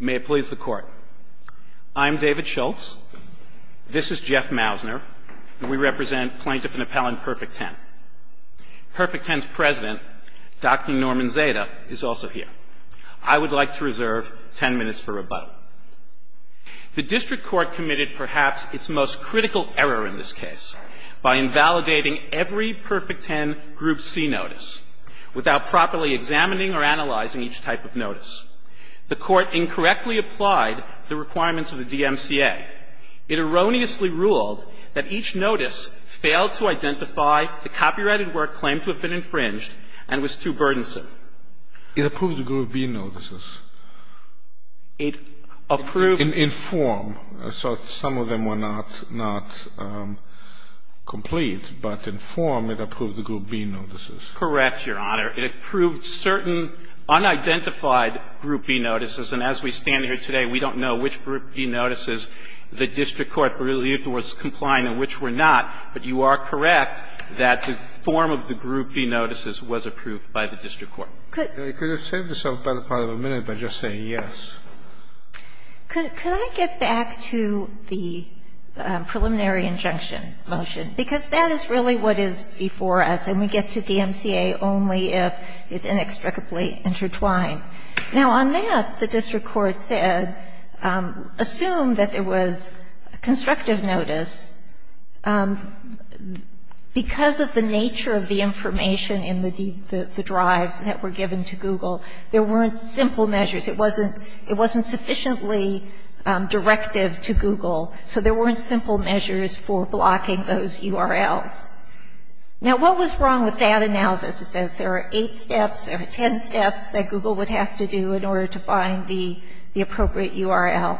May it please the Court. I'm David Schultz. This is Jeff Mausner, and we represent Plaintiff and Appellant Perfect 10. Perfect 10's President, Dr. Norman Zeta, is also here. I would like to reserve ten minutes for rebuttal. The District Court committed perhaps its most critical error in this case by invalidating every Perfect 10 Group C notice without properly examining or analyzing each type of notice. The Court incorrectly applied the requirements of the DMCA. It erroneously ruled that each notice failed to identify the copyrighted work claimed to have been infringed and was too burdensome. It approved the Group B notices. It approved In form, so some of them were not complete, but in form, it approved the Group B notices. Correct, Your Honor. It approved certain unidentified Group B notices. And as we stand here today, we don't know which Group B notices the District Court believed was complying and which were not. But you are correct that the form of the Group B notices was approved by the District Court. Could you save yourself by the part of a minute by just saying yes? Could I get back to the preliminary injunction motion? Because that is really what is before us, and we get to DMCA only if it's inextricably intertwined. Now, on that, the District Court said, assume that there was constructive notice. Because of the nature of the information in the drives that were given to Google, there weren't simple measures. It wasn't sufficiently directive to Google, so there weren't simple measures for blocking those URLs. Now, what was wrong with that analysis? It says there are eight steps, there are ten steps that Google would have to do in order to find the appropriate URL.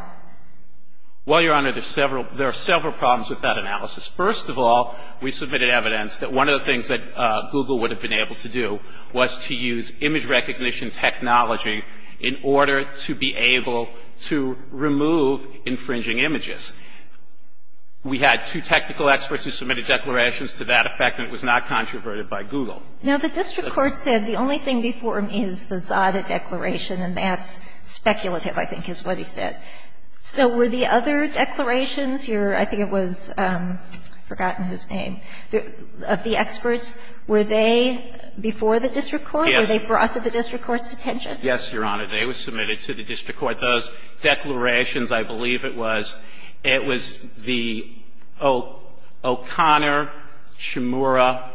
Well, Your Honor, there are several problems with that analysis. First of all, we submitted evidence that one of the things that Google would have been able to do was to use image recognition technology in order to be able to remove infringing images. We had two technical experts who submitted declarations to that effect, and it was not controverted by Google. Now, the District Court said the only thing before me is the ZADA declaration, and that's speculative, I think, is what he said. So were the other declarations, your – I think it was – I've forgotten his name – of the experts, were they before the District Court? Were they brought to the District Court's attention? Yes, Your Honor. They were submitted to the District Court. Those declarations, I believe it was – it was the O'Connor, Chimura,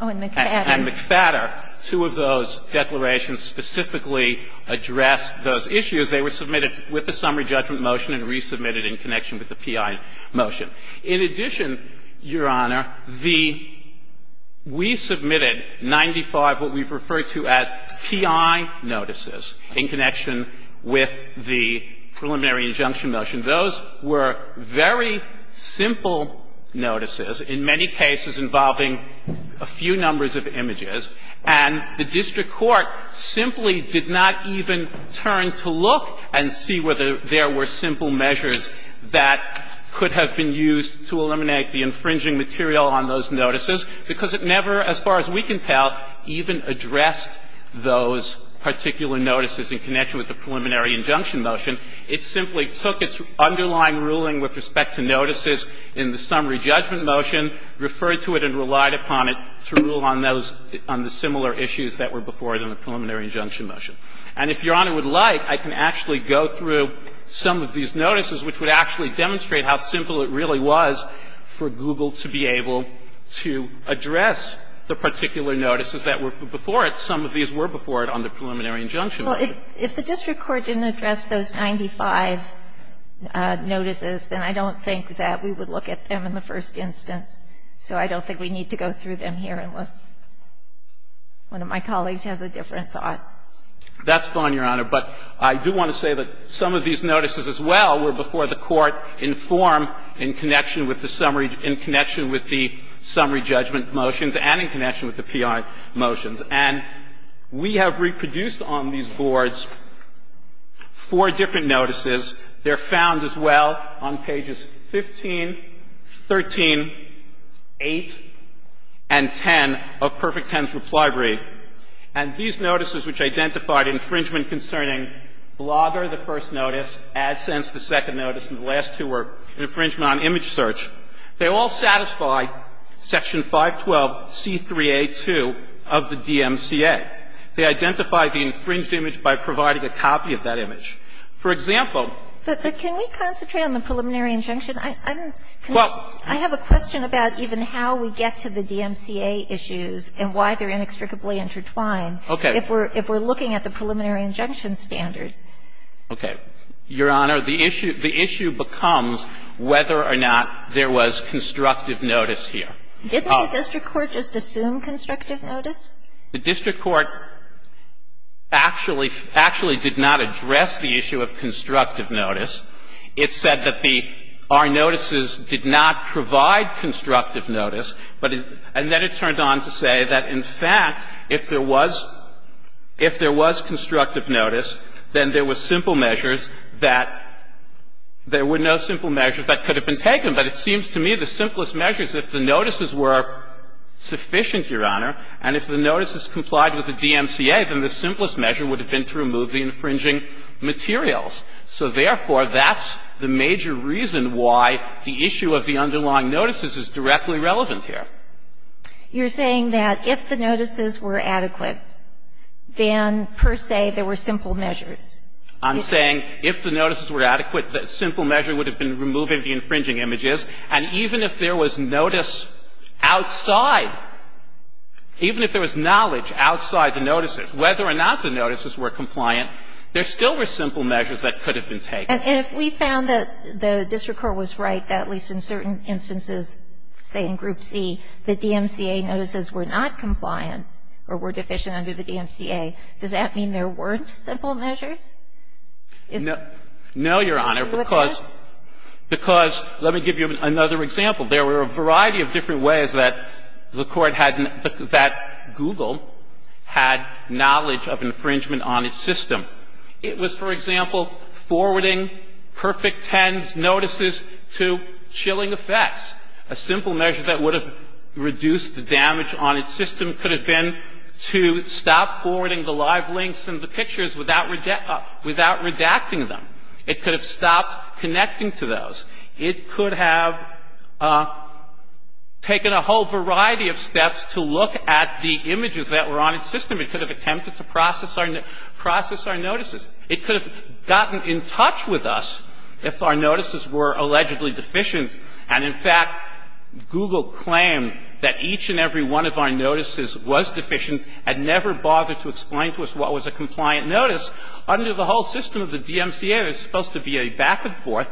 and McFadden. Two of those declarations specifically addressed those issues. They were submitted with a summary judgment motion and resubmitted in connection with the P.I. motion. In addition, Your Honor, the – we submitted 95 what we've referred to as P.I. notices in connection with the preliminary injunction motion. Those were very simple notices, in many cases involving a few numbers of images, and the District Court simply did not even turn to look and see whether there were very simple measures that could have been used to eliminate the infringing material on those notices, because it never, as far as we can tell, even addressed those particular notices in connection with the preliminary injunction motion. It simply took its underlying ruling with respect to notices in the summary judgment motion, referred to it and relied upon it to rule on those – on the similar And that's the reason why I think it's important to look at some of these notices, which would actually demonstrate how simple it really was for Google to be able to address the particular notices that were before it. Some of these were before it on the preliminary injunction motion. Well, if the District Court didn't address those 95 notices, then I don't think that we would look at them in the first instance. So I don't think we need to go through them here unless one of my colleagues has a different thought. That's fine, Your Honor. But I do want to say that some of these notices as well were before the Court in form in connection with the summary – in connection with the summary judgment motions and in connection with the P.I. motions. And we have reproduced on these boards four different notices. They're found as well on pages 15, 13, 8, and 10 of Perfect Ten's reply brief. And these notices which identified infringement concerning Blogger, the first notice, AdSense, the second notice, and the last two were infringement on image search, they all satisfy section 512c3a2 of the DMCA. They identify the infringed image by providing a copy of that image. For example – But can we concentrate on the preliminary injunction? I have a question about even how we get to the DMCA issues and why they're inextricably intertwined if we're looking at the preliminary injunction standard. Okay. Your Honor, the issue becomes whether or not there was constructive notice here. Didn't the District Court just assume constructive notice? The District Court actually did not address the issue of constructive notice. It said that the – our notices did not provide constructive notice, but – and then it turned on to say that, in fact, if there was constructive notice, then there were simple measures that – there were no simple measures that could have been taken. But it seems to me the simplest measures, if the notices were sufficient, Your Honor, and if the notices complied with the DMCA, then the simplest measure would have been to remove the infringing materials. So, therefore, that's the major reason why the issue of the underlying notices is directly relevant here. You're saying that if the notices were adequate, then per se there were simple measures. I'm saying if the notices were adequate, the simple measure would have been removing the infringing images. And even if there was notice outside, even if there was knowledge outside the notices, whether or not the notices were compliant, there still were simple measures that could have been taken. And if we found that the District Court was right, that at least in certain instances, say in Group C, the DMCA notices were not compliant or were deficient under the DMCA, does that mean there weren't simple measures? No, Your Honor, because – With this? going to say that there were simple measures that could have been taken. Because let me give you another example. There were a variety of different ways that the Court had – that Google had knowledge of infringement on its system. It was, for example, forwarding perfect tens notices to chilling effects. A simple measure that would have reduced the damage on its system could have been to stop forwarding the live links and the pictures without redacting them. It could have stopped connecting to those. It could have taken a whole variety of steps to look at the images that were on its system. It could have attempted to process our notices. It could have gotten in touch with us if our notices were allegedly deficient and, in fact, Google claimed that each and every one of our notices was deficient and never bothered to explain to us what was a compliant notice. Under the whole system of the DMCA, there's supposed to be a back and forth.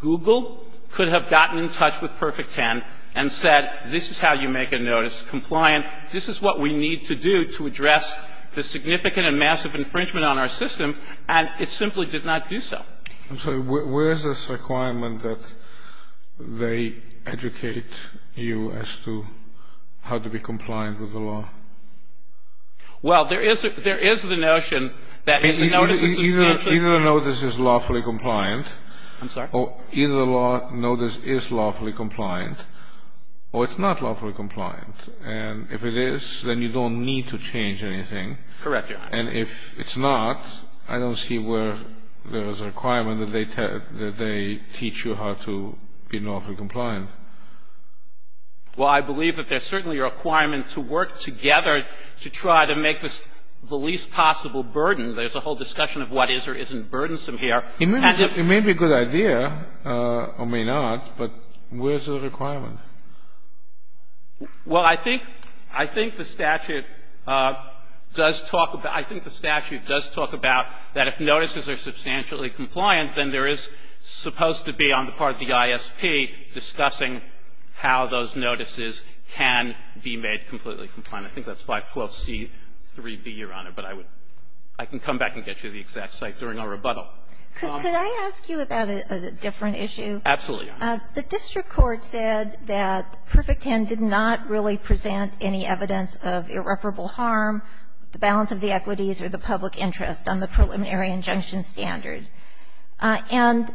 Google could have gotten in touch with Perfect Ten and said, this is how you make a notice, compliant. This is what we need to do to address the significant and massive infringement on our system, and it simply did not do so. I'm sorry. Where is this requirement that they educate you as to how to be compliant with the law? Well, there is the notion that the notices are substantial. Either the notice is lawfully compliant. I'm sorry? Either the notice is lawfully compliant or it's not lawfully compliant. And if it is, then you don't need to change anything. Correct, Your Honor. And if it's not, I don't see where there is a requirement that they teach you how to be lawfully compliant. Well, I believe that there's certainly a requirement to work together to try to make this the least possible burden. There's a whole discussion of what is or isn't burdensome here. It may be a good idea or may not, but where is the requirement? Well, I think the statute does talk about that if notices are substantially compliant, then there is supposed to be on the part of the ISP discussing how those notices can be made completely compliant. I think that's 512c3b, Your Honor, but I can come back and get you the exact site during our rebuttal. Absolutely, Your Honor. The district court said that Perfect Ten did not really present any evidence of irreparable harm, the balance of the equities or the public interest on the preliminary injunction standard. And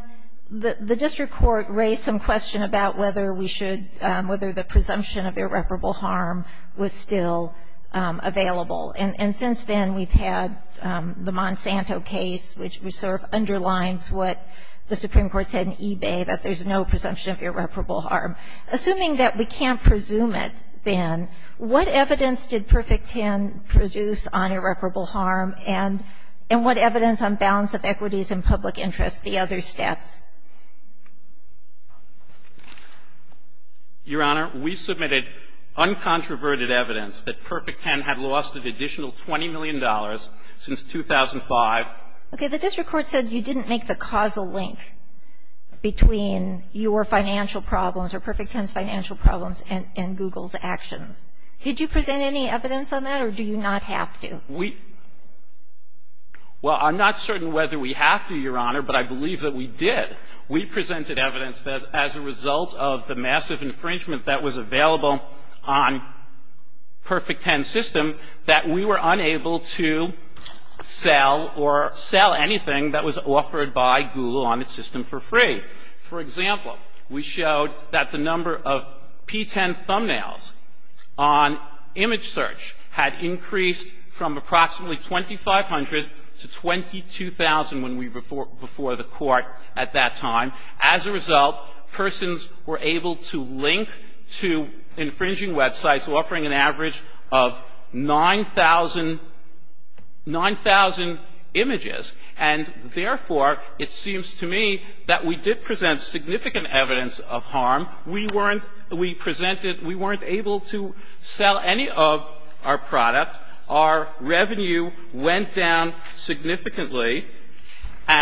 the district court raised some question about whether we should – whether the presumption of irreparable harm was still available. And since then, we've had the Monsanto case, which sort of underlines what the Supreme Court said about the presumption of irreparable harm. Assuming that we can't presume it then, what evidence did Perfect Ten produce on irreparable harm and what evidence on balance of equities and public interest, the other steps? Your Honor, we submitted uncontroverted evidence that Perfect Ten had lost an additional $20 million since 2005. Okay. The district court said you didn't make the causal link between your financial problems or Perfect Ten's financial problems and Google's actions. Did you present any evidence on that, or do you not have to? We – well, I'm not certain whether we have to, Your Honor, but I believe that we did. We presented evidence that as a result of the massive infringement that was available on Perfect Ten's system, that we were unable to sell or sell anything that was offered by Google on its system for free. For example, we showed that the number of P-10 thumbnails on image search had increased from approximately 2,500 to 22,000 when we – before the court at that time. As a result, persons were able to link to infringing websites offering an average of 9,000 – 9,000 images. And therefore, it seems to me that we did present significant evidence of harm. We weren't – we presented – we weren't able to sell any of our product. Our revenue went down significantly. The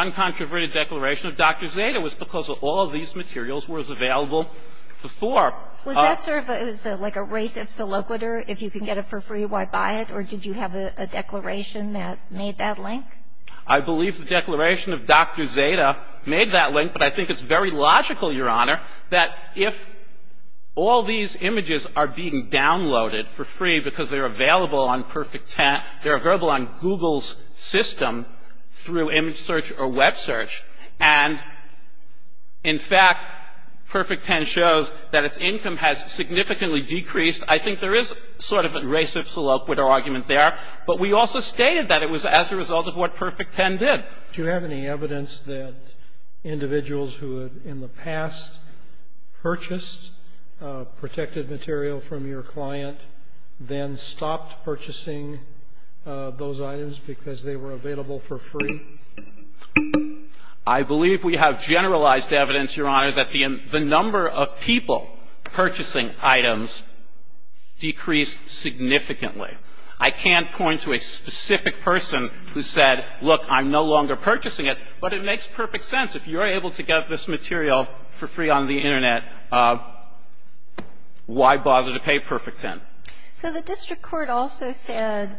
uncontroverted declaration of Dr. Zeta was because all of these materials was available before. Was that sort of – it was like a race of soliquitor? If you can get it for free, why buy it? Or did you have a declaration that made that link? I believe the declaration of Dr. Zeta made that link, but I think it's very logical, Your Honor, that if all these images are being downloaded for free because they're available on Perfect 10 – they're available on Google's system through image search or web search, and in fact, Perfect 10 shows that its income has significantly decreased. I think there is sort of a race of soliquitor argument there, but we also stated that it was as a result of what Perfect 10 did. Do you have any evidence that individuals who had in the past purchased protected material from your client, then stopped purchasing those items because they were available for free? I believe we have generalized evidence, Your Honor, that the number of people purchasing items decreased significantly. I can't point to a specific person who said, look, I'm no longer purchasing it, but it So I don't know the person who said, look, I'm no longer purchasing it, but it isn't. The other answer is, if you're a public intellectual, why bother to pay Perfect 10? So the district court also said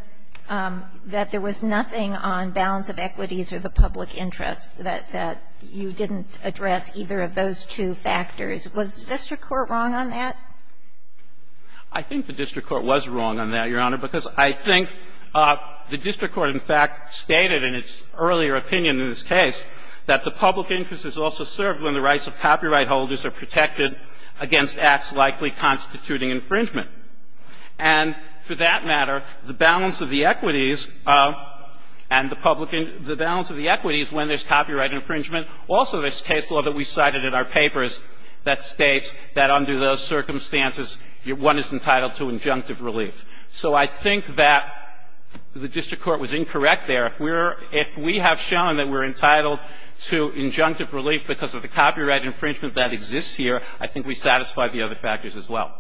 that there was nothing on balance of equities or the public interest, that you didn't address either of those two factors. Was the district court wrong on that? I think the district court was wrong on that, Your Honor, because I think the district court in fact stated in its earlier opinion in this case that the public interest is also served when the rights of copyright holders are protected against acts likely constituting infringement. And for that matter, the balance of the equities and the public interest – the balance of the equities when there's copyright infringement, also this case law that we cited in our papers that states that under those circumstances, one is entitled to injunctive relief. So I think that the district court was incorrect there. If we're – if we have shown that we're entitled to injunctive relief because of the copyright infringement that exists here, I think we satisfy the other factors as well.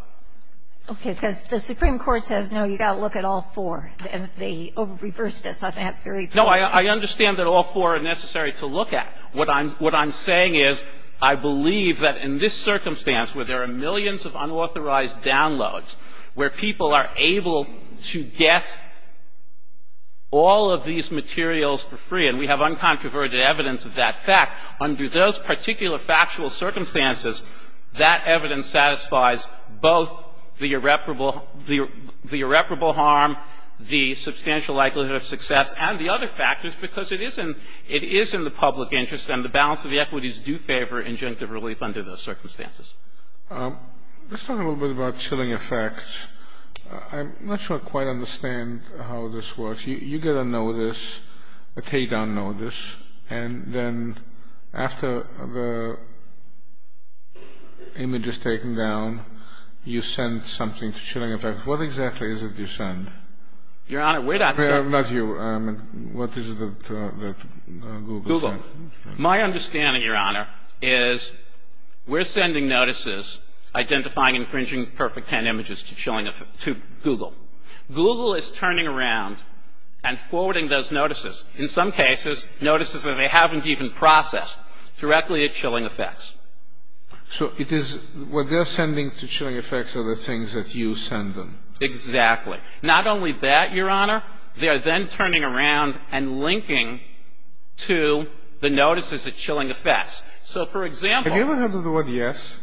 Okay. Because the Supreme Court says, no, you've got to look at all four. And they reversed us on that very point. No, I understand that all four are necessary to look at. What I'm – what I'm saying is, I believe that in this circumstance, where there are millions of unauthorized downloads, where people are able to get all of these materials for free, and we have uncontroverted evidence of that fact, under those particular factual circumstances, that evidence satisfies both the irreparable – the irreparable harm, the substantial likelihood of success, and the other factors, because it is in – it is in the public interest, and the balance of the equities do favor injunctive relief under those circumstances. Let's talk a little bit about chilling effects. I'm not sure I quite understand how this works. You get a notice, a takedown notice, and then after the image is taken down, you send something to chilling effect. What exactly is it you send? Your Honor, we're not – Not you. I mean, what is it that Google sent? Google. My understanding, Your Honor, is we're sending notices identifying infringing perfect hand images to chilling effect – to Google. Google is turning around and forwarding those notices, in some cases, notices that they haven't even processed, directly at chilling effects. So it is – what they're sending to chilling effects are the things that you send them. Exactly. Not only that, Your Honor, they are then turning around and linking to the notices at chilling effects. So, for example – Have you ever heard of the word yes?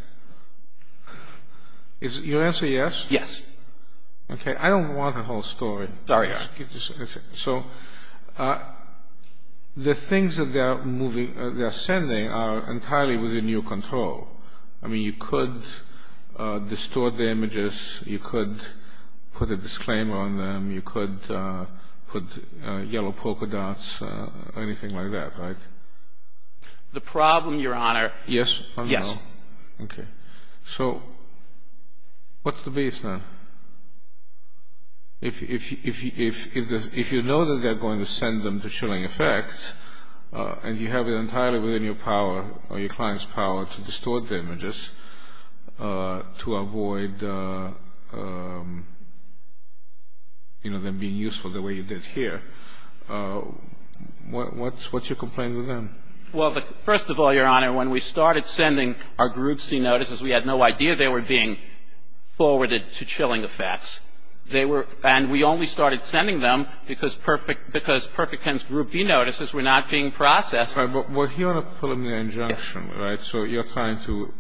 Is – your answer yes? Yes. Okay, I don't want a whole story. Sorry, Your Honor. So, the things that they're moving – they're sending are entirely within your control. I mean, you could distort the images, you could put a disclaimer on them, you could put yellow polka dots, anything like that, right? The problem, Your Honor – Yes or no? Yes. Okay. So, what's the baseline? If you know that they're going to send them to chilling effects and you have it entirely within your power or your client's power to distort the images to avoid, you know, them being useful the way you did here, what's your complaint with them? Well, first of all, Your Honor, when we started sending our Group C notices, we had no idea they were being forwarded to chilling effects. They were – and we only started sending them because Perfect – because Perfect Pen's Group B notices were not being processed. Right. But we're here on a preliminary injunction, right? So, you're trying to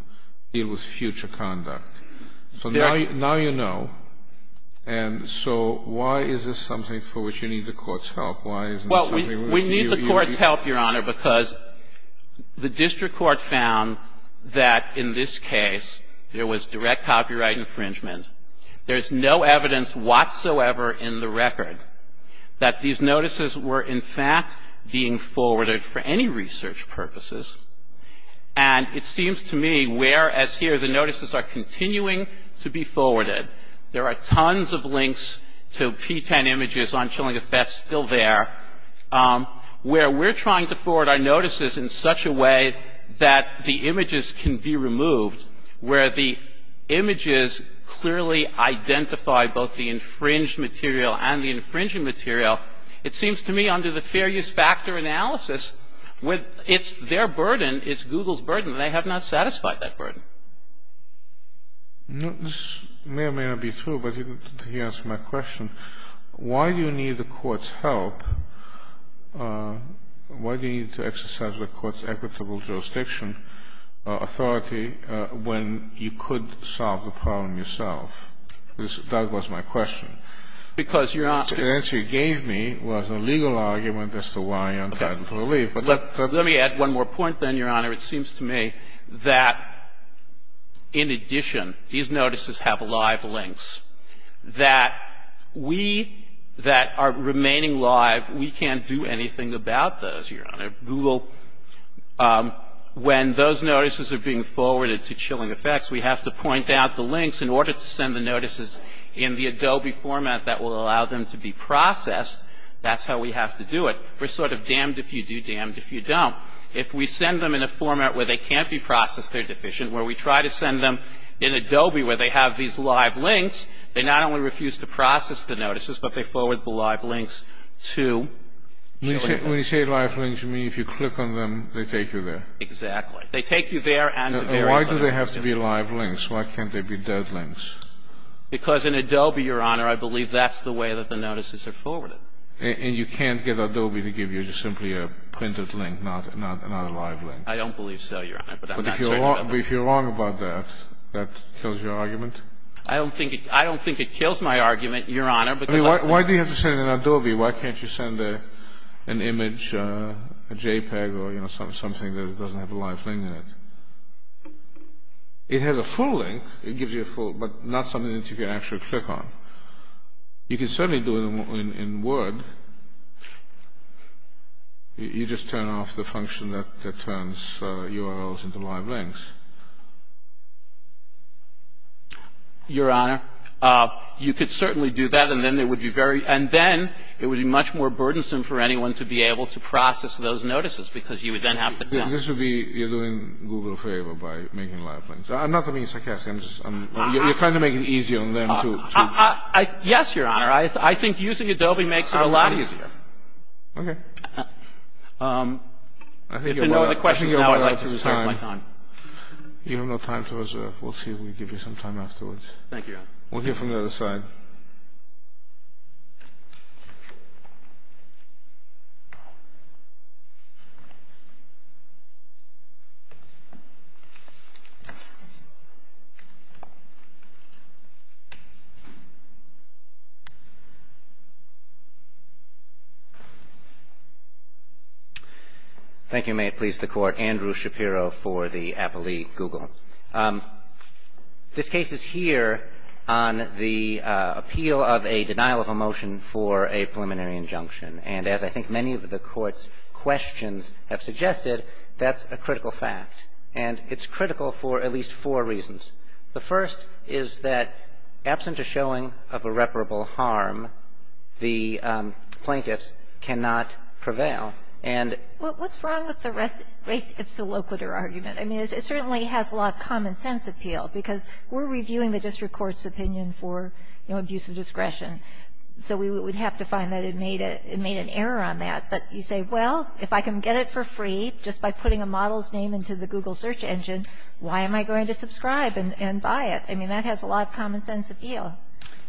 deal with future conduct. So, now you know. And so, why is this something for which you need the Court's help? Why isn't it something with you – We need the Court's help, Your Honor, because the district court found that in this case there was direct copyright infringement. There's no evidence whatsoever in the record that these notices were, in fact, being forwarded for any research purposes. And it seems to me, whereas here the notices are continuing to be forwarded, there are tons of links to P-10 images on chilling effects still there, where we're trying to forward our notices in such a way that the images can be removed, where the images clearly identify both the infringed material and the infringing material, it seems to me under the fair use factor analysis, it's their burden, it's Google's burden. They have not satisfied that burden. This may or may not be true, but to answer my question, why do you need the Court's help? Why do you need to exercise the Court's equitable jurisdiction authority when you could solve the problem yourself? That was my question. Because, Your Honor – The answer you gave me was a legal argument as to why untitled relief, but let's – Let me add one more point then, Your Honor. It seems to me that, in addition, these notices have live links, that we that are remaining live, we can't do anything about those, Your Honor. Google – when those notices are being forwarded to chilling effects, we have to point out the links in order to send the notices in the Adobe format that will allow them to be processed. That's how we have to do it. We're sort of damned if you do, damned if you don't. If we send them in a format where they can't be processed, they're deficient, where we try to send them in Adobe where they have these live links, they not only refuse to process the notices, but they forward the live links to chilling effects. When you say live links, you mean if you click on them, they take you there? Exactly. They take you there and to various other places. Why do they have to be live links? Why can't they be dead links? Because in Adobe, Your Honor, I believe that's the way that the notices are forwarded. And you can't get Adobe to give you just simply a printed link, not a live link? I don't believe so, Your Honor, but I'm not certain about that. But if you're wrong about that, that kills your argument? I don't think it kills my argument, Your Honor, because I... I mean, why do you have to send it in Adobe? Why can't you send an image, a JPEG or something that doesn't have a live link in it? It has a full link. It gives you a full, but not something that you can actually click on. You can certainly do it in Word. You just turn off the function that turns URLs into live links. Your Honor, you could certainly do that and then it would be very... and then it would be much more burdensome for anyone to be able to process those notices because you would then have to... This would be... You're doing Google a favor by making live links. I'm not talking sarcastically, I'm just... You're trying to make it easier on them to... Yes, Your Honor. I think using Adobe makes it a lot easier. Okay. If there are no other questions, now I'd like to reserve my time. You have no time to reserve. We'll see if we give you some time afterwards. Thank you, Your Honor. We'll hear from the other side. Thank you, and may it please the Court, Andrew Shapiro for the appellee, Google. This case is here on the appeal of a denial of a motion for a preliminary injunction, and as I think many of the Court's questions have suggested, that's a critical fact. And it's critical for at least four reasons. The first is that absent a showing of irreparable harm, the plaintiffs cannot prevail, and... What's wrong with the res ipsa loquitur argument? I mean, it certainly has a lot of common sense appeal because we're reviewing the district court's opinion for, you know, abuse of discretion. So we would have to find that it made an error on that. But you say, well, if I can get it for free just by putting a model's name into the Google search engine, why am I going to subscribe and buy it? I mean, that has a lot of common sense appeal.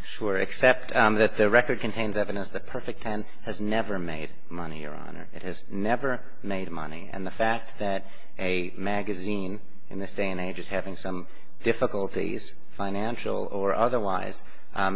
Sure, except that the record contains evidence that Perfect Ten has never made money, Your Honor. It has never made money. And the fact that a magazine in this day and age is having some difficulties, financial or otherwise,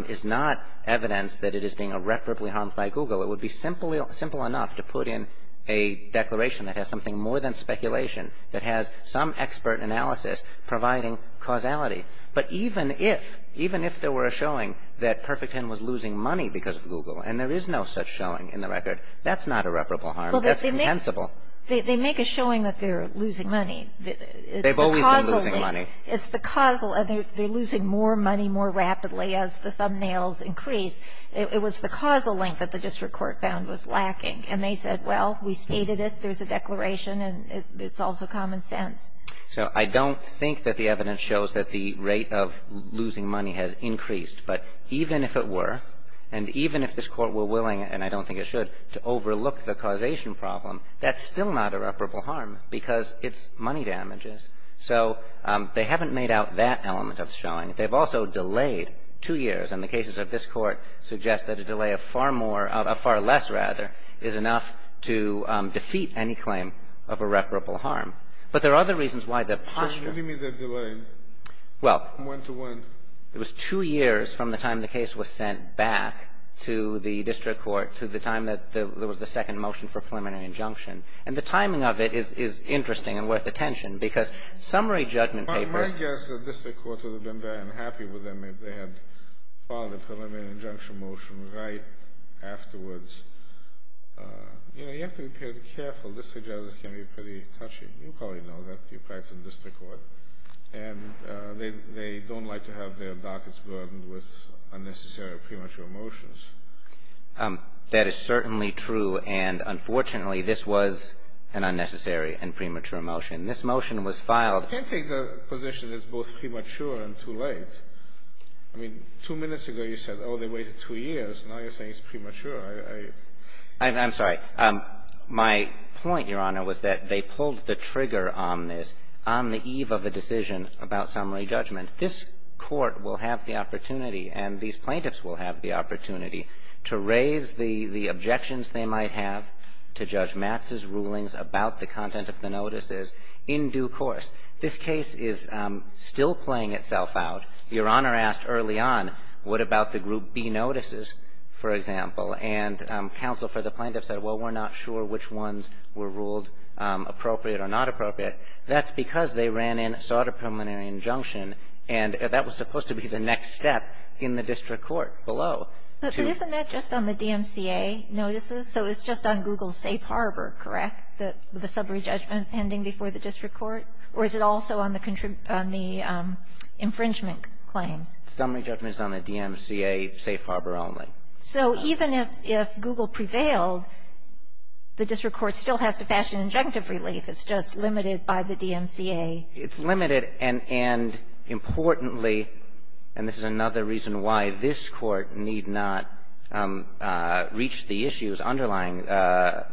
is not evidence that it is being irreparably harmed by Google. It would be simple enough to put in a declaration that has something more than speculation, that has some expert analysis providing causality. But even if, even if there were a showing that Perfect Ten was losing money because of Google, and there is no such showing in the record, that's not irreparable harm. That's compensable. They make a showing that they're losing money. They've always been losing money. It's the causal, and they're losing more money more rapidly as the thumbnails increase. It was the causal link that the district court found was lacking. And they said, well, we stated it. There's a declaration, and it's also common sense. So I don't think that the evidence shows that the rate of losing money has increased. But even if it were, and even if this Court were willing, and I don't think it should, to overlook the causation problem, that's still not irreparable harm because it's money damages. So they haven't made out that element of showing. They've also delayed two years. And the cases of this Court suggest that a delay of far more, of far less, rather, is enough to defeat any claim of irreparable harm. But there are other reasons why the posture of the case was sent back to the district court to the time that there was the second motion for preliminary injunction. And the timing of it is interesting and worth attention because summary judgment papers of the district court would have been very unhappy with them if they had, if they had filed a preliminary injunction motion right afterwards. You know, you have to be very careful. District judges can be pretty touchy. You probably know that. You practice in district court. And they don't like to have their dockets burdened with unnecessary or premature motions. That is certainly true. And, unfortunately, this was an unnecessary and premature motion. This motion was filed. I can't take the position that it's both premature and too late. I mean, two minutes ago you said, oh, they waited two years. Now you're saying it's premature. I am sorry. My point, Your Honor, was that they pulled the trigger on this on the eve of a decision about summary judgment. This Court will have the opportunity and these plaintiffs will have the opportunity to raise the objections they might have to Judge Matz's rulings about the content of the notices in due course. This case is still playing itself out. Your Honor asked early on what about the Group B notices, for example, and counsel for the plaintiffs said, well, we're not sure which ones were ruled appropriate or not appropriate. That's because they ran in, sought a preliminary injunction, and that was supposed to be the next step in the district court below. But isn't that just on the DMCA notices? So it's just on Google's Safe Harbor, correct, the summary judgment pending before the district court, or is it also on the infringement claims? Summary judgment is on the DMCA Safe Harbor only. So even if Google prevailed, the district court still has to fashion injunctive relief. It's just limited by the DMCA. It's limited. And importantly, and this is another reason why this Court need not reach the issues underlying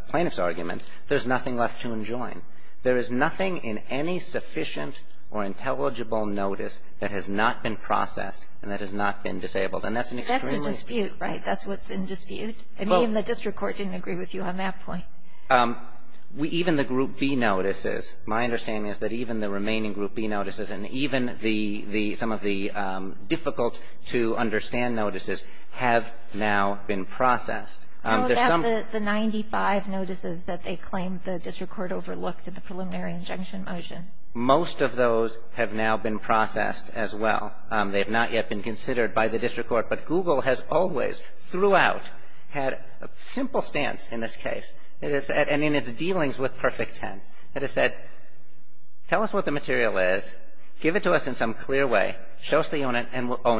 plaintiff's arguments, there's nothing left to enjoin. There is nothing in any sufficient or intelligible notice that has not been processed and that has not been disabled. And that's an extremely ---- That's a dispute, right? That's what's in dispute? I mean, the district court didn't agree with you on that point. Even the Group B notices, my understanding is that even the remaining Group B notices and even the some of the difficult-to-understand notices have now been processed. How about the 95 notices that they claim the district court overlooked in the preliminary injunction motion? Most of those have now been processed as well. They have not yet been considered by the district court. But Google has always, throughout, had a simple stance in this case and in its dealings with Perfect Ten. It has said, tell us what the material is, give it to us in some clear way, show us that you own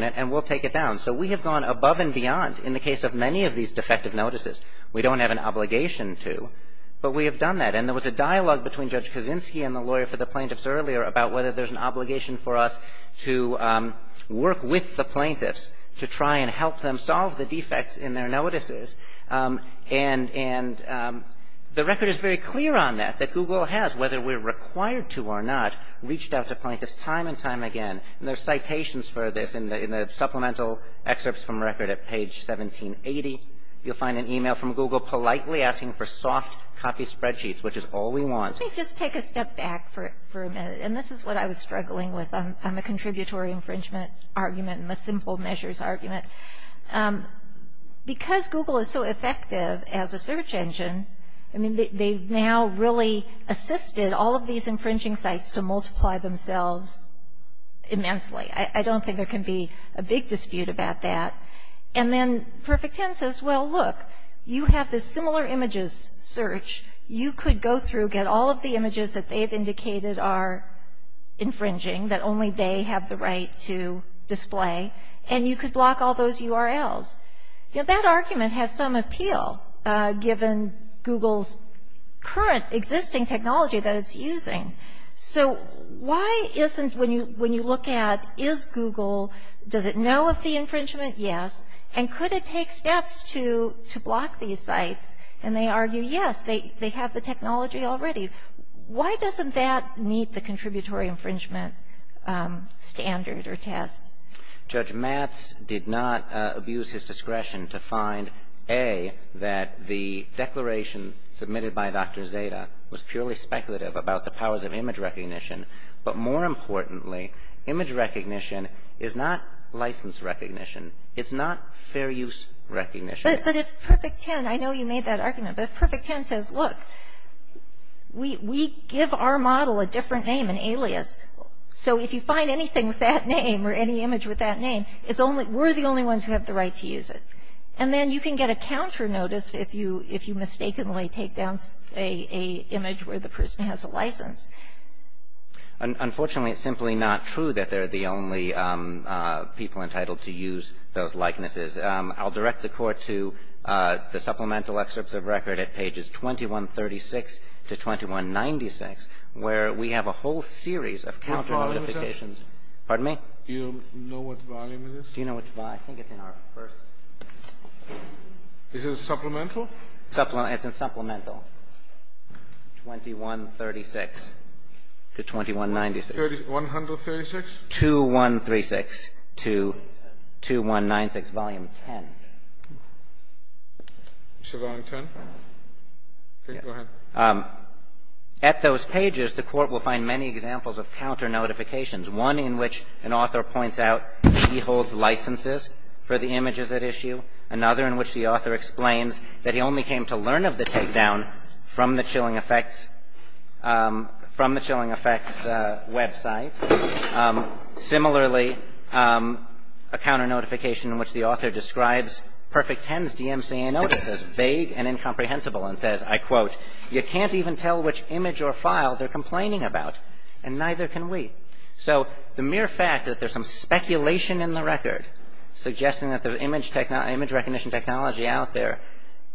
it, and we'll take it down. So we have gone above and beyond in the case of many of these defective notices. We don't have an obligation to. But we have done that. And there was a dialogue between Judge Kaczynski and the lawyer for the plaintiffs earlier about whether there's an obligation for us to work with the plaintiffs to try and help them solve the defects in their notices. And the record is very clear on that, that Google has, whether we're required to or not, reached out to plaintiffs time and time again. And there are citations for this in the supplemental excerpts from record at page 1780. You'll find an email from Google politely asking for soft copy spreadsheets, which is all we want. Let me just take a step back for a minute. And this is what I was struggling with on the contributory infringement argument and the simple measures argument. Because Google is so effective as a search engine, I mean, they've now really assisted all of these infringing sites to multiply themselves immensely. I don't think there can be a big dispute about that. And then Perfect 10 says, well, look, you have this similar images search. You could go through, get all of the images that they've indicated are infringing, that only they have the right to display, and you could block all those URLs. You know, that argument has some appeal, given Google's current existing technology that it's using. So why isn't, when you look at, is Google, does it know of the infringement? Yes. And could it take steps to block these sites? And they argue, yes, they have the technology already. Why doesn't that meet the contributory infringement standard or test? Judge Matz did not abuse his discretion to find, A, that the declaration submitted by Dr. Zeta was purely speculative about the powers of image recognition. But more importantly, image recognition is not license recognition. It's not fair use recognition. But if Perfect 10, I know you made that argument. But if Perfect 10 says, look, we give our model a different name, an alias, so if you find anything with that name or any image with that name, it's only we're the only ones who have the right to use it. And then you can get a counter notice if you mistakenly take down an image where the person has a license. Unfortunately, it's simply not true that they're the only people entitled to use those likenesses. I'll direct the Court to the supplemental excerpts of record at pages 2136 to 2196, where we have a whole series of counter notifications. Pardon me? Do you know what volume it is? Do you know which volume? I think it's in our first. Is it a supplemental? It's a supplemental. 2136 to 2196. 136? 2136 to 2196, volume 10. Is it volume 10? Yes. Go ahead. At those pages, the Court will find many examples of counter notifications, one in which an author points out he holds licenses for the images at issue, another in which the author explains that he only came to learn of the takedown from the Chilling Effects website. Similarly, a counter notification in which the author describes Perfect Ten's DMCA notice as vague and incomprehensible and says, I quote, you can't even tell which image or file they're complaining about, and neither can we. So the mere fact that there's some speculation in the record suggesting that there's image recognition technology out there,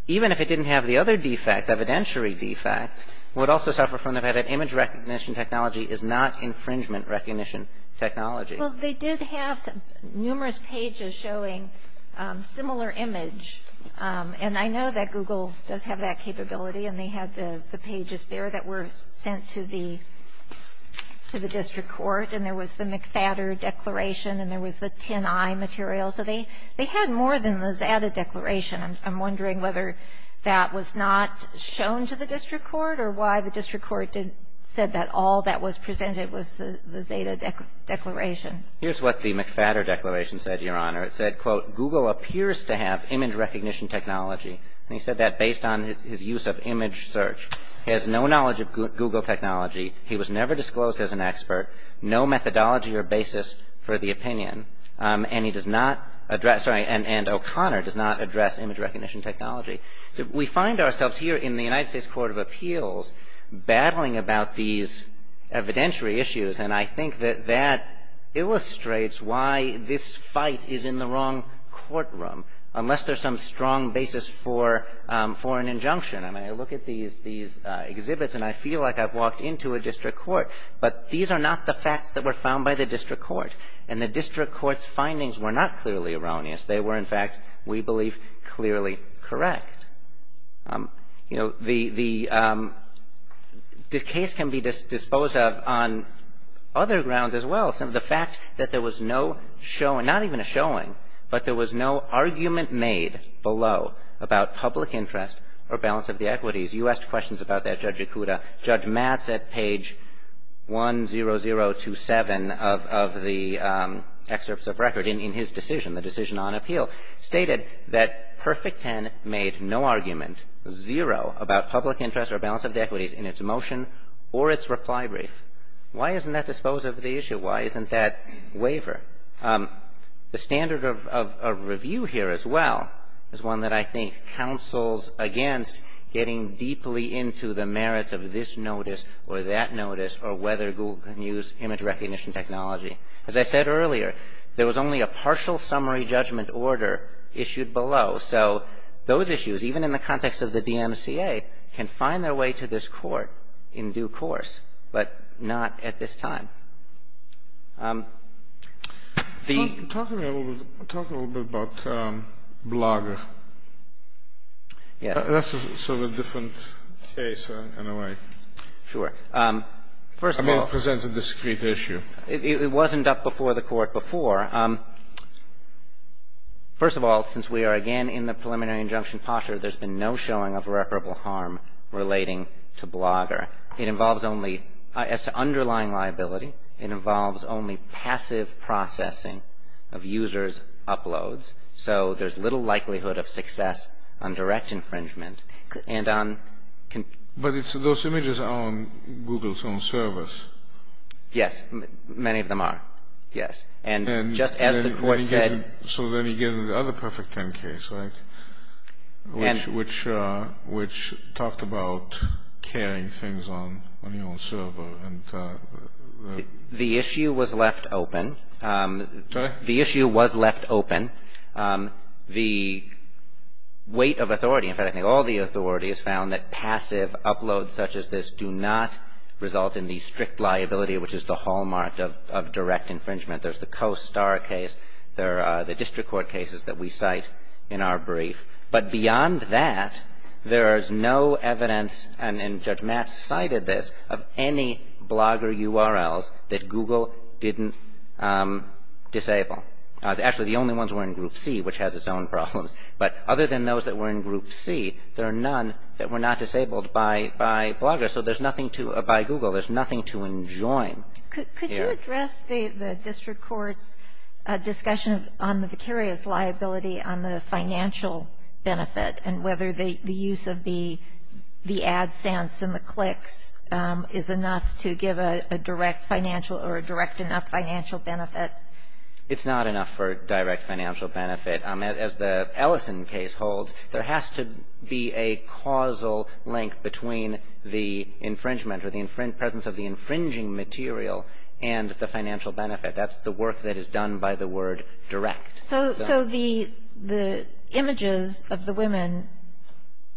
even if it didn't have the other defects, evidentiary defects, would also suffer from the fact that image recognition technology is not infringement recognition technology. Well, they did have numerous pages showing similar image, and I know that Google does have that capability, and they had the pages there that were sent to the district court, and there was the McFadder declaration, and there was the 10i material. So they had more than the Zeta declaration. I'm wondering whether that was not shown to the district court or why the district court said that all that was presented was the Zeta declaration. Here's what the McFadder declaration said, Your Honor. It said, quote, Google appears to have image recognition technology, and he said that based on his use of image search. He has no knowledge of Google technology. He was never disclosed as an expert, no methodology or basis for the opinion, and he does not address, sorry, and O'Connor does not address image recognition technology. We find ourselves here in the United States Court of Appeals battling about these evidentiary issues, and I think that that illustrates why this fight is in the wrong courtroom, unless there's some strong basis for an injunction. I mean, I look at these exhibits, and I feel like I've walked into a district court, but these are not the facts that were found by the district court, and the district court's findings were not clearly erroneous. They were, in fact, we believe clearly correct. You know, the case can be disposed of on other grounds as well. The fact that there was no showing, not even a showing, but there was no argument made below about public interest or balance of the equities. You asked questions about that, Judge Ikuda. Judge Matz at page 10027 of the excerpts of record in his decision, the decision on appeal, stated that Perfect Ten made no argument, zero, about public interest or balance of the equities in its motion or its reply brief. Why isn't that disposed of the issue? Why isn't that waiver? The standard of review here as well is one that I think counsels against getting deeply into the merits of this notice or that notice or whether Google can use image recognition technology. As I said earlier, there was only a partial summary judgment order issued below. So those issues, even in the context of the DMCA, can find their way to this court in due course, but not at this time. The ---- Talk a little bit about Blager. Yes. That's sort of a different case in a way. Sure. First of all ---- I mean, it presents a discrete issue. It wasn't up before the Court before. First of all, since we are again in the preliminary injunction posture, there's been no showing of irreparable harm relating to Blager. As to underlying liability, it involves only passive processing of users' uploads. So there's little likelihood of success on direct infringement and on ---- But those images are on Google's own servers. Yes. Many of them are. Yes. And just as the Court said ---- The issue was left open. Correct. The issue was left open. The weight of authority, in fact, I think all the authorities, found that passive uploads such as this do not result in the strict liability, which is the hallmark of direct infringement. There's the Coast Star case. There are the district court cases that we cite in our brief. But beyond that, there is no evidence, and Judge Matz cited this, of any Blager URLs that Google didn't disable. Actually, the only ones were in Group C, which has its own problems. But other than those that were in Group C, there are none that were not disabled by Blager. So there's nothing to ---- by Google, there's nothing to enjoin here. Could you address the district court's discussion on the vicarious liability on the financial benefit and whether the use of the AdSense and the clicks is enough to give a direct financial or a direct enough financial benefit? It's not enough for direct financial benefit. As the Ellison case holds, there has to be a causal link between the infringement or the presence of the infringing material and the financial benefit. That's the work that is done by the word direct. So the images of the women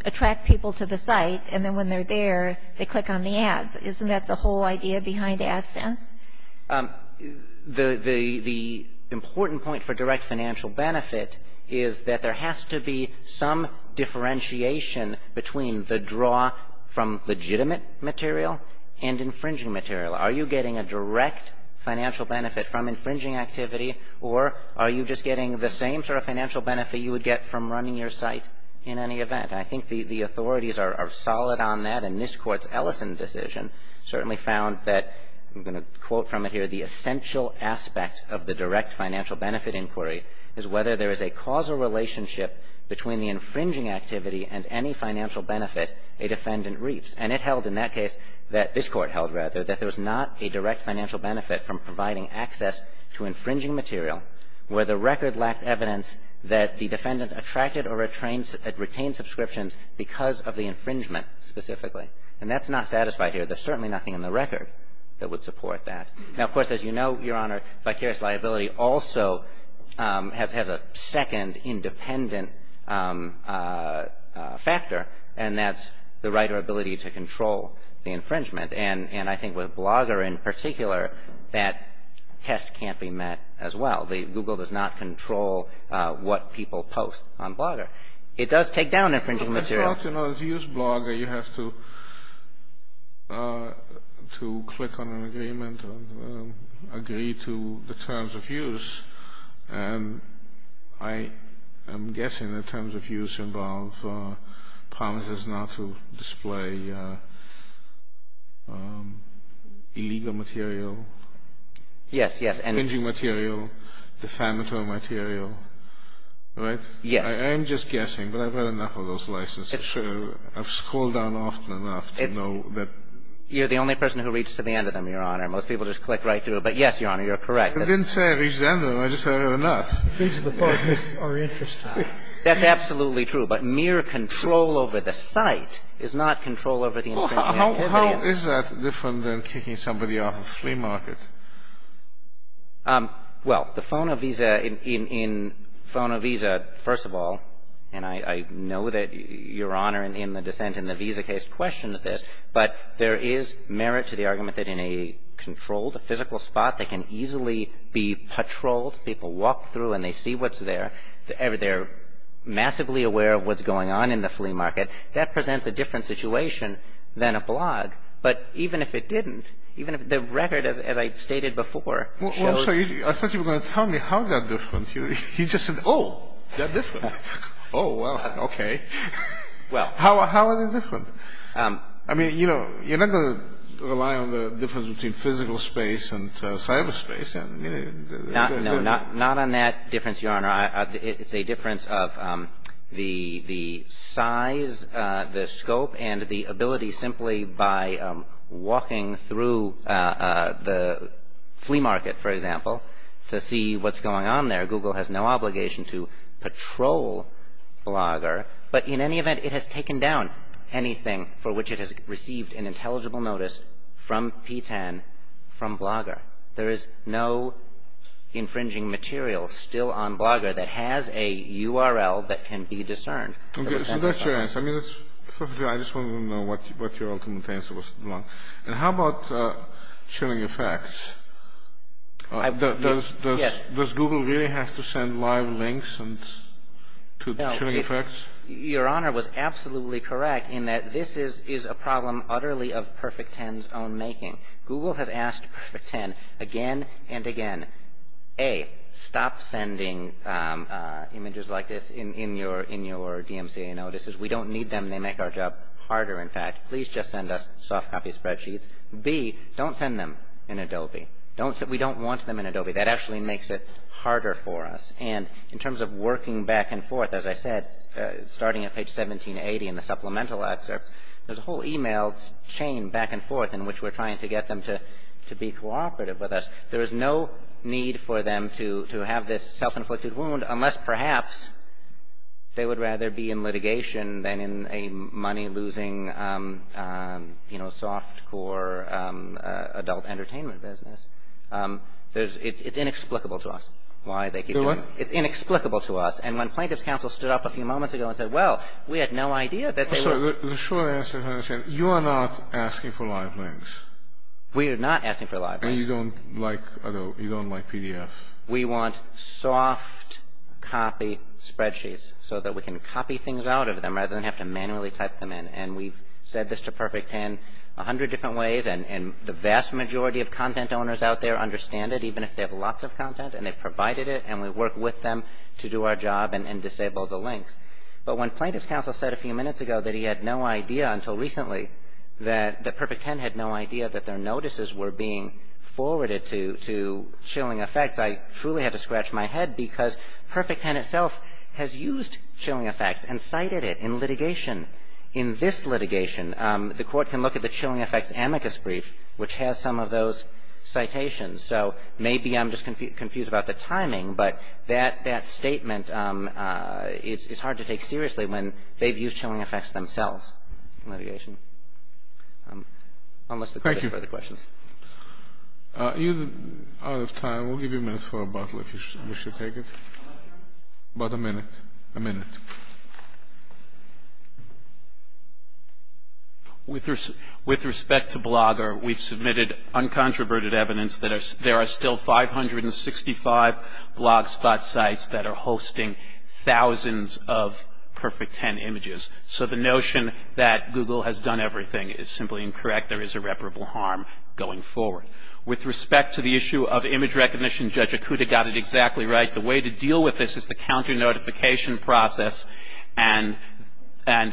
attract people to the site, and then when they're there, they click on the ads. Isn't that the whole idea behind AdSense? The important point for direct financial benefit is that there has to be some differentiation between the draw from legitimate material and infringing material. Are you getting a direct financial benefit from infringing activity or are you just getting the same sort of financial benefit you would get from running your site in any event? I think the authorities are solid on that, and this Court's Ellison decision certainly found that, I'm going to quote from it here, the essential aspect of the direct financial benefit inquiry is whether there is a causal relationship between the infringing activity and any financial benefit a defendant reaps. And it held in that case that this Court held, rather, that there was not a direct financial benefit from providing access to infringing material where the record lacked evidence that the defendant attracted or retained subscriptions because of the infringement specifically. And that's not satisfied here. There's certainly nothing in the record that would support that. Now, of course, as you know, Your Honor, vicarious liability also has a second independent factor, and that's the writer ability to control the infringement. And I think with Blogger in particular, that test can't be met as well. Google does not control what people post on Blogger. It does take down infringing material. I would like to note, if you use Blogger, you have to click on an agreement or agree to the terms of use. And I am guessing the terms of use involve promises not to display illegal material. Yes, yes. Infringing material, defamatory material, right? Yes. I am just guessing, but I've read enough of those licenses. It's true. I've scrolled down often enough to know that. You're the only person who reads to the end of them, Your Honor. Most people just click right through. But, yes, Your Honor, you're correct. I didn't say I read to the end of them. I just said I read enough. The things in the book are interesting. That's absolutely true. But mere control over the site is not control over the infringing activity. How is that different than kicking somebody off a flea market? Well, the FONO visa, in FONO visa, first of all, and I know that Your Honor, in the dissent in the visa case, questioned this, but there is merit to the argument that in a controlled, a physical spot, they can easily be patrolled. People walk through and they see what's there. They're massively aware of what's going on in the flea market. That presents a different situation than a blog. But even if it didn't, even if the record, as I stated before, shows. I thought you were going to tell me how that's different. You just said, oh, that's different. Oh, well, okay. How is it different? I mean, you know, you're not going to rely on the difference between physical space No, not on that difference, Your Honor. It's a difference of the size, the scope, and the ability simply by walking through the flea market, for example, to see what's going on there. Google has no obligation to patrol Blogger. But in any event, it has taken down anything for which it has received an intelligible notice from P-10 from Blogger. There is no infringing material still on Blogger that has a URL that can be discerned. So that's your answer. I just wanted to know what your ultimate answer was. And how about chilling effects? Does Google really have to send live links to chilling effects? Your Honor was absolutely correct in that this is a problem utterly of P-10's own making. Google has asked P-10 again and again, A, stop sending images like this in your DMCA notices. We don't need them. They make our job harder, in fact. Please just send us soft copy spreadsheets. B, don't send them in Adobe. We don't want them in Adobe. That actually makes it harder for us. And in terms of working back and forth, as I said, starting at page 1780 in the supplemental excerpts, there's a whole e-mail chain back and forth in which we're trying to get them to be cooperative with us. There is no need for them to have this self-inflicted wound unless perhaps they would rather be in litigation than in a money-losing, you know, soft core adult entertainment business. It's inexplicable to us why they keep doing it. It's inexplicable to us. And when Plaintiff's Counsel stood up a few moments ago and said, well, we had no idea that they were The short answer, as I said, you are not asking for live links. We are not asking for live links. And you don't like Adobe. You don't like PDFs. We want soft copy spreadsheets so that we can copy things out of them rather than have to manually type them in. And we've said this to Perfect Ten a hundred different ways, and the vast majority of content owners out there understand it, even if they have lots of content, and they provided it, and we work with them to do our job and disable the links. But when Plaintiff's Counsel said a few minutes ago that he had no idea until recently that Perfect Ten had no idea that their notices were being forwarded to Chilling Effects, I truly had to scratch my head because Perfect Ten itself has used Chilling Effects and cited it in litigation. In this litigation, the Court can look at the Chilling Effects amicus brief, which has some of those citations. So maybe I'm just confused about the timing, but that statement is hard to take seriously when they've used Chilling Effects themselves in litigation. Thank you. You're out of time. We'll give you a minute for a bottle if you wish to take it. About a minute. A minute. With respect to Blogger, we've submitted uncontroverted evidence that there are still 565 blogspot sites that are hosting thousands of Perfect Ten images. So the notion that Google has done everything is simply incorrect. There is irreparable harm going forward. With respect to the issue of image recognition, Judge Akuta got it exactly right. The way to deal with this is the counter notification process, and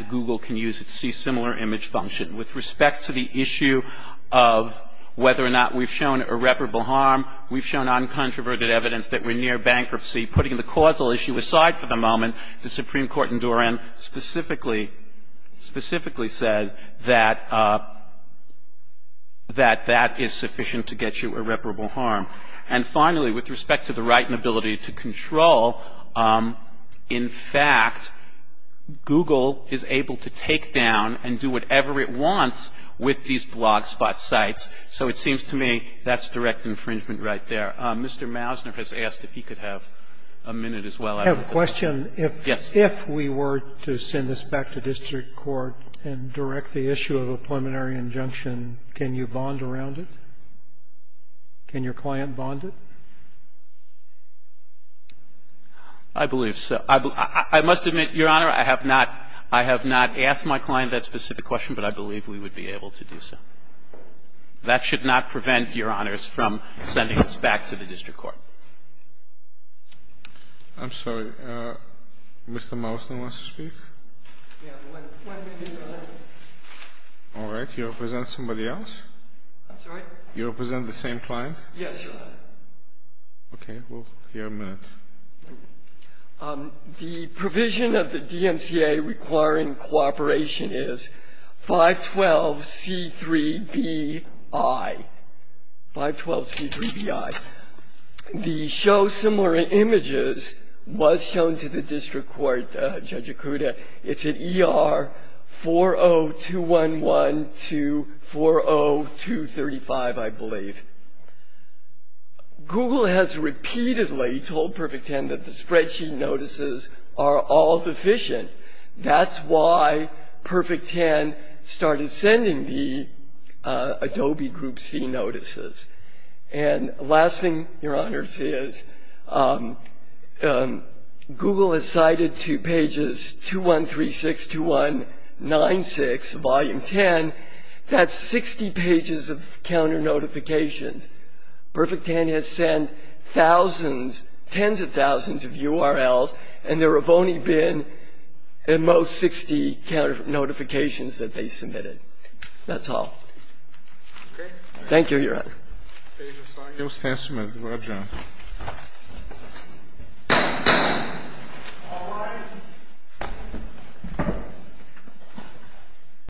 Google can use it to see similar image function. With respect to the issue of whether or not we've shown irreparable harm, we've shown uncontroverted evidence that we're near bankruptcy. Putting the causal issue aside for the moment, the Supreme Court in Duran specifically said that that is sufficient to get you irreparable harm. And finally, with respect to the right and ability to control, in fact, Google is able to take down and do whatever it wants with these blogspot sites. So it seems to me that's direct infringement right there. Mr. Mousner has asked if he could have a minute as well. I have a question. Yes. If we were to send this back to district court and direct the issue of a preliminary injunction, can you bond around it? Can your client bond it? I believe so. I must admit, Your Honor, I have not asked my client that specific question, but I believe we would be able to do so. That should not prevent Your Honors from sending this back to the district court. I'm sorry. Mr. Mousner wants to speak? We have one minute left. All right. You'll present somebody else? I'm sorry? You'll present the same client? Yes, Your Honor. Okay. We'll hear a minute. The provision of the DMCA requiring cooperation is 512C3BI. 512C3BI. The show similar images was shown to the district court, Judge Ikuda. It's at ER 40211 to 40235, I believe. Google has repeatedly told Perfect 10 that the spreadsheet notices are all deficient. That's why Perfect 10 started sending the Adobe Group C notices. And the last thing, Your Honors, is Google has cited to pages 2136, 2196, Volume 10, that's 60 pages of counter notifications. Perfect 10 has sent thousands, tens of thousands of URLs, and there have only been at most 60 counter notifications that they submitted. That's all. Thank you, Your Honor. Thank you, Your Honor.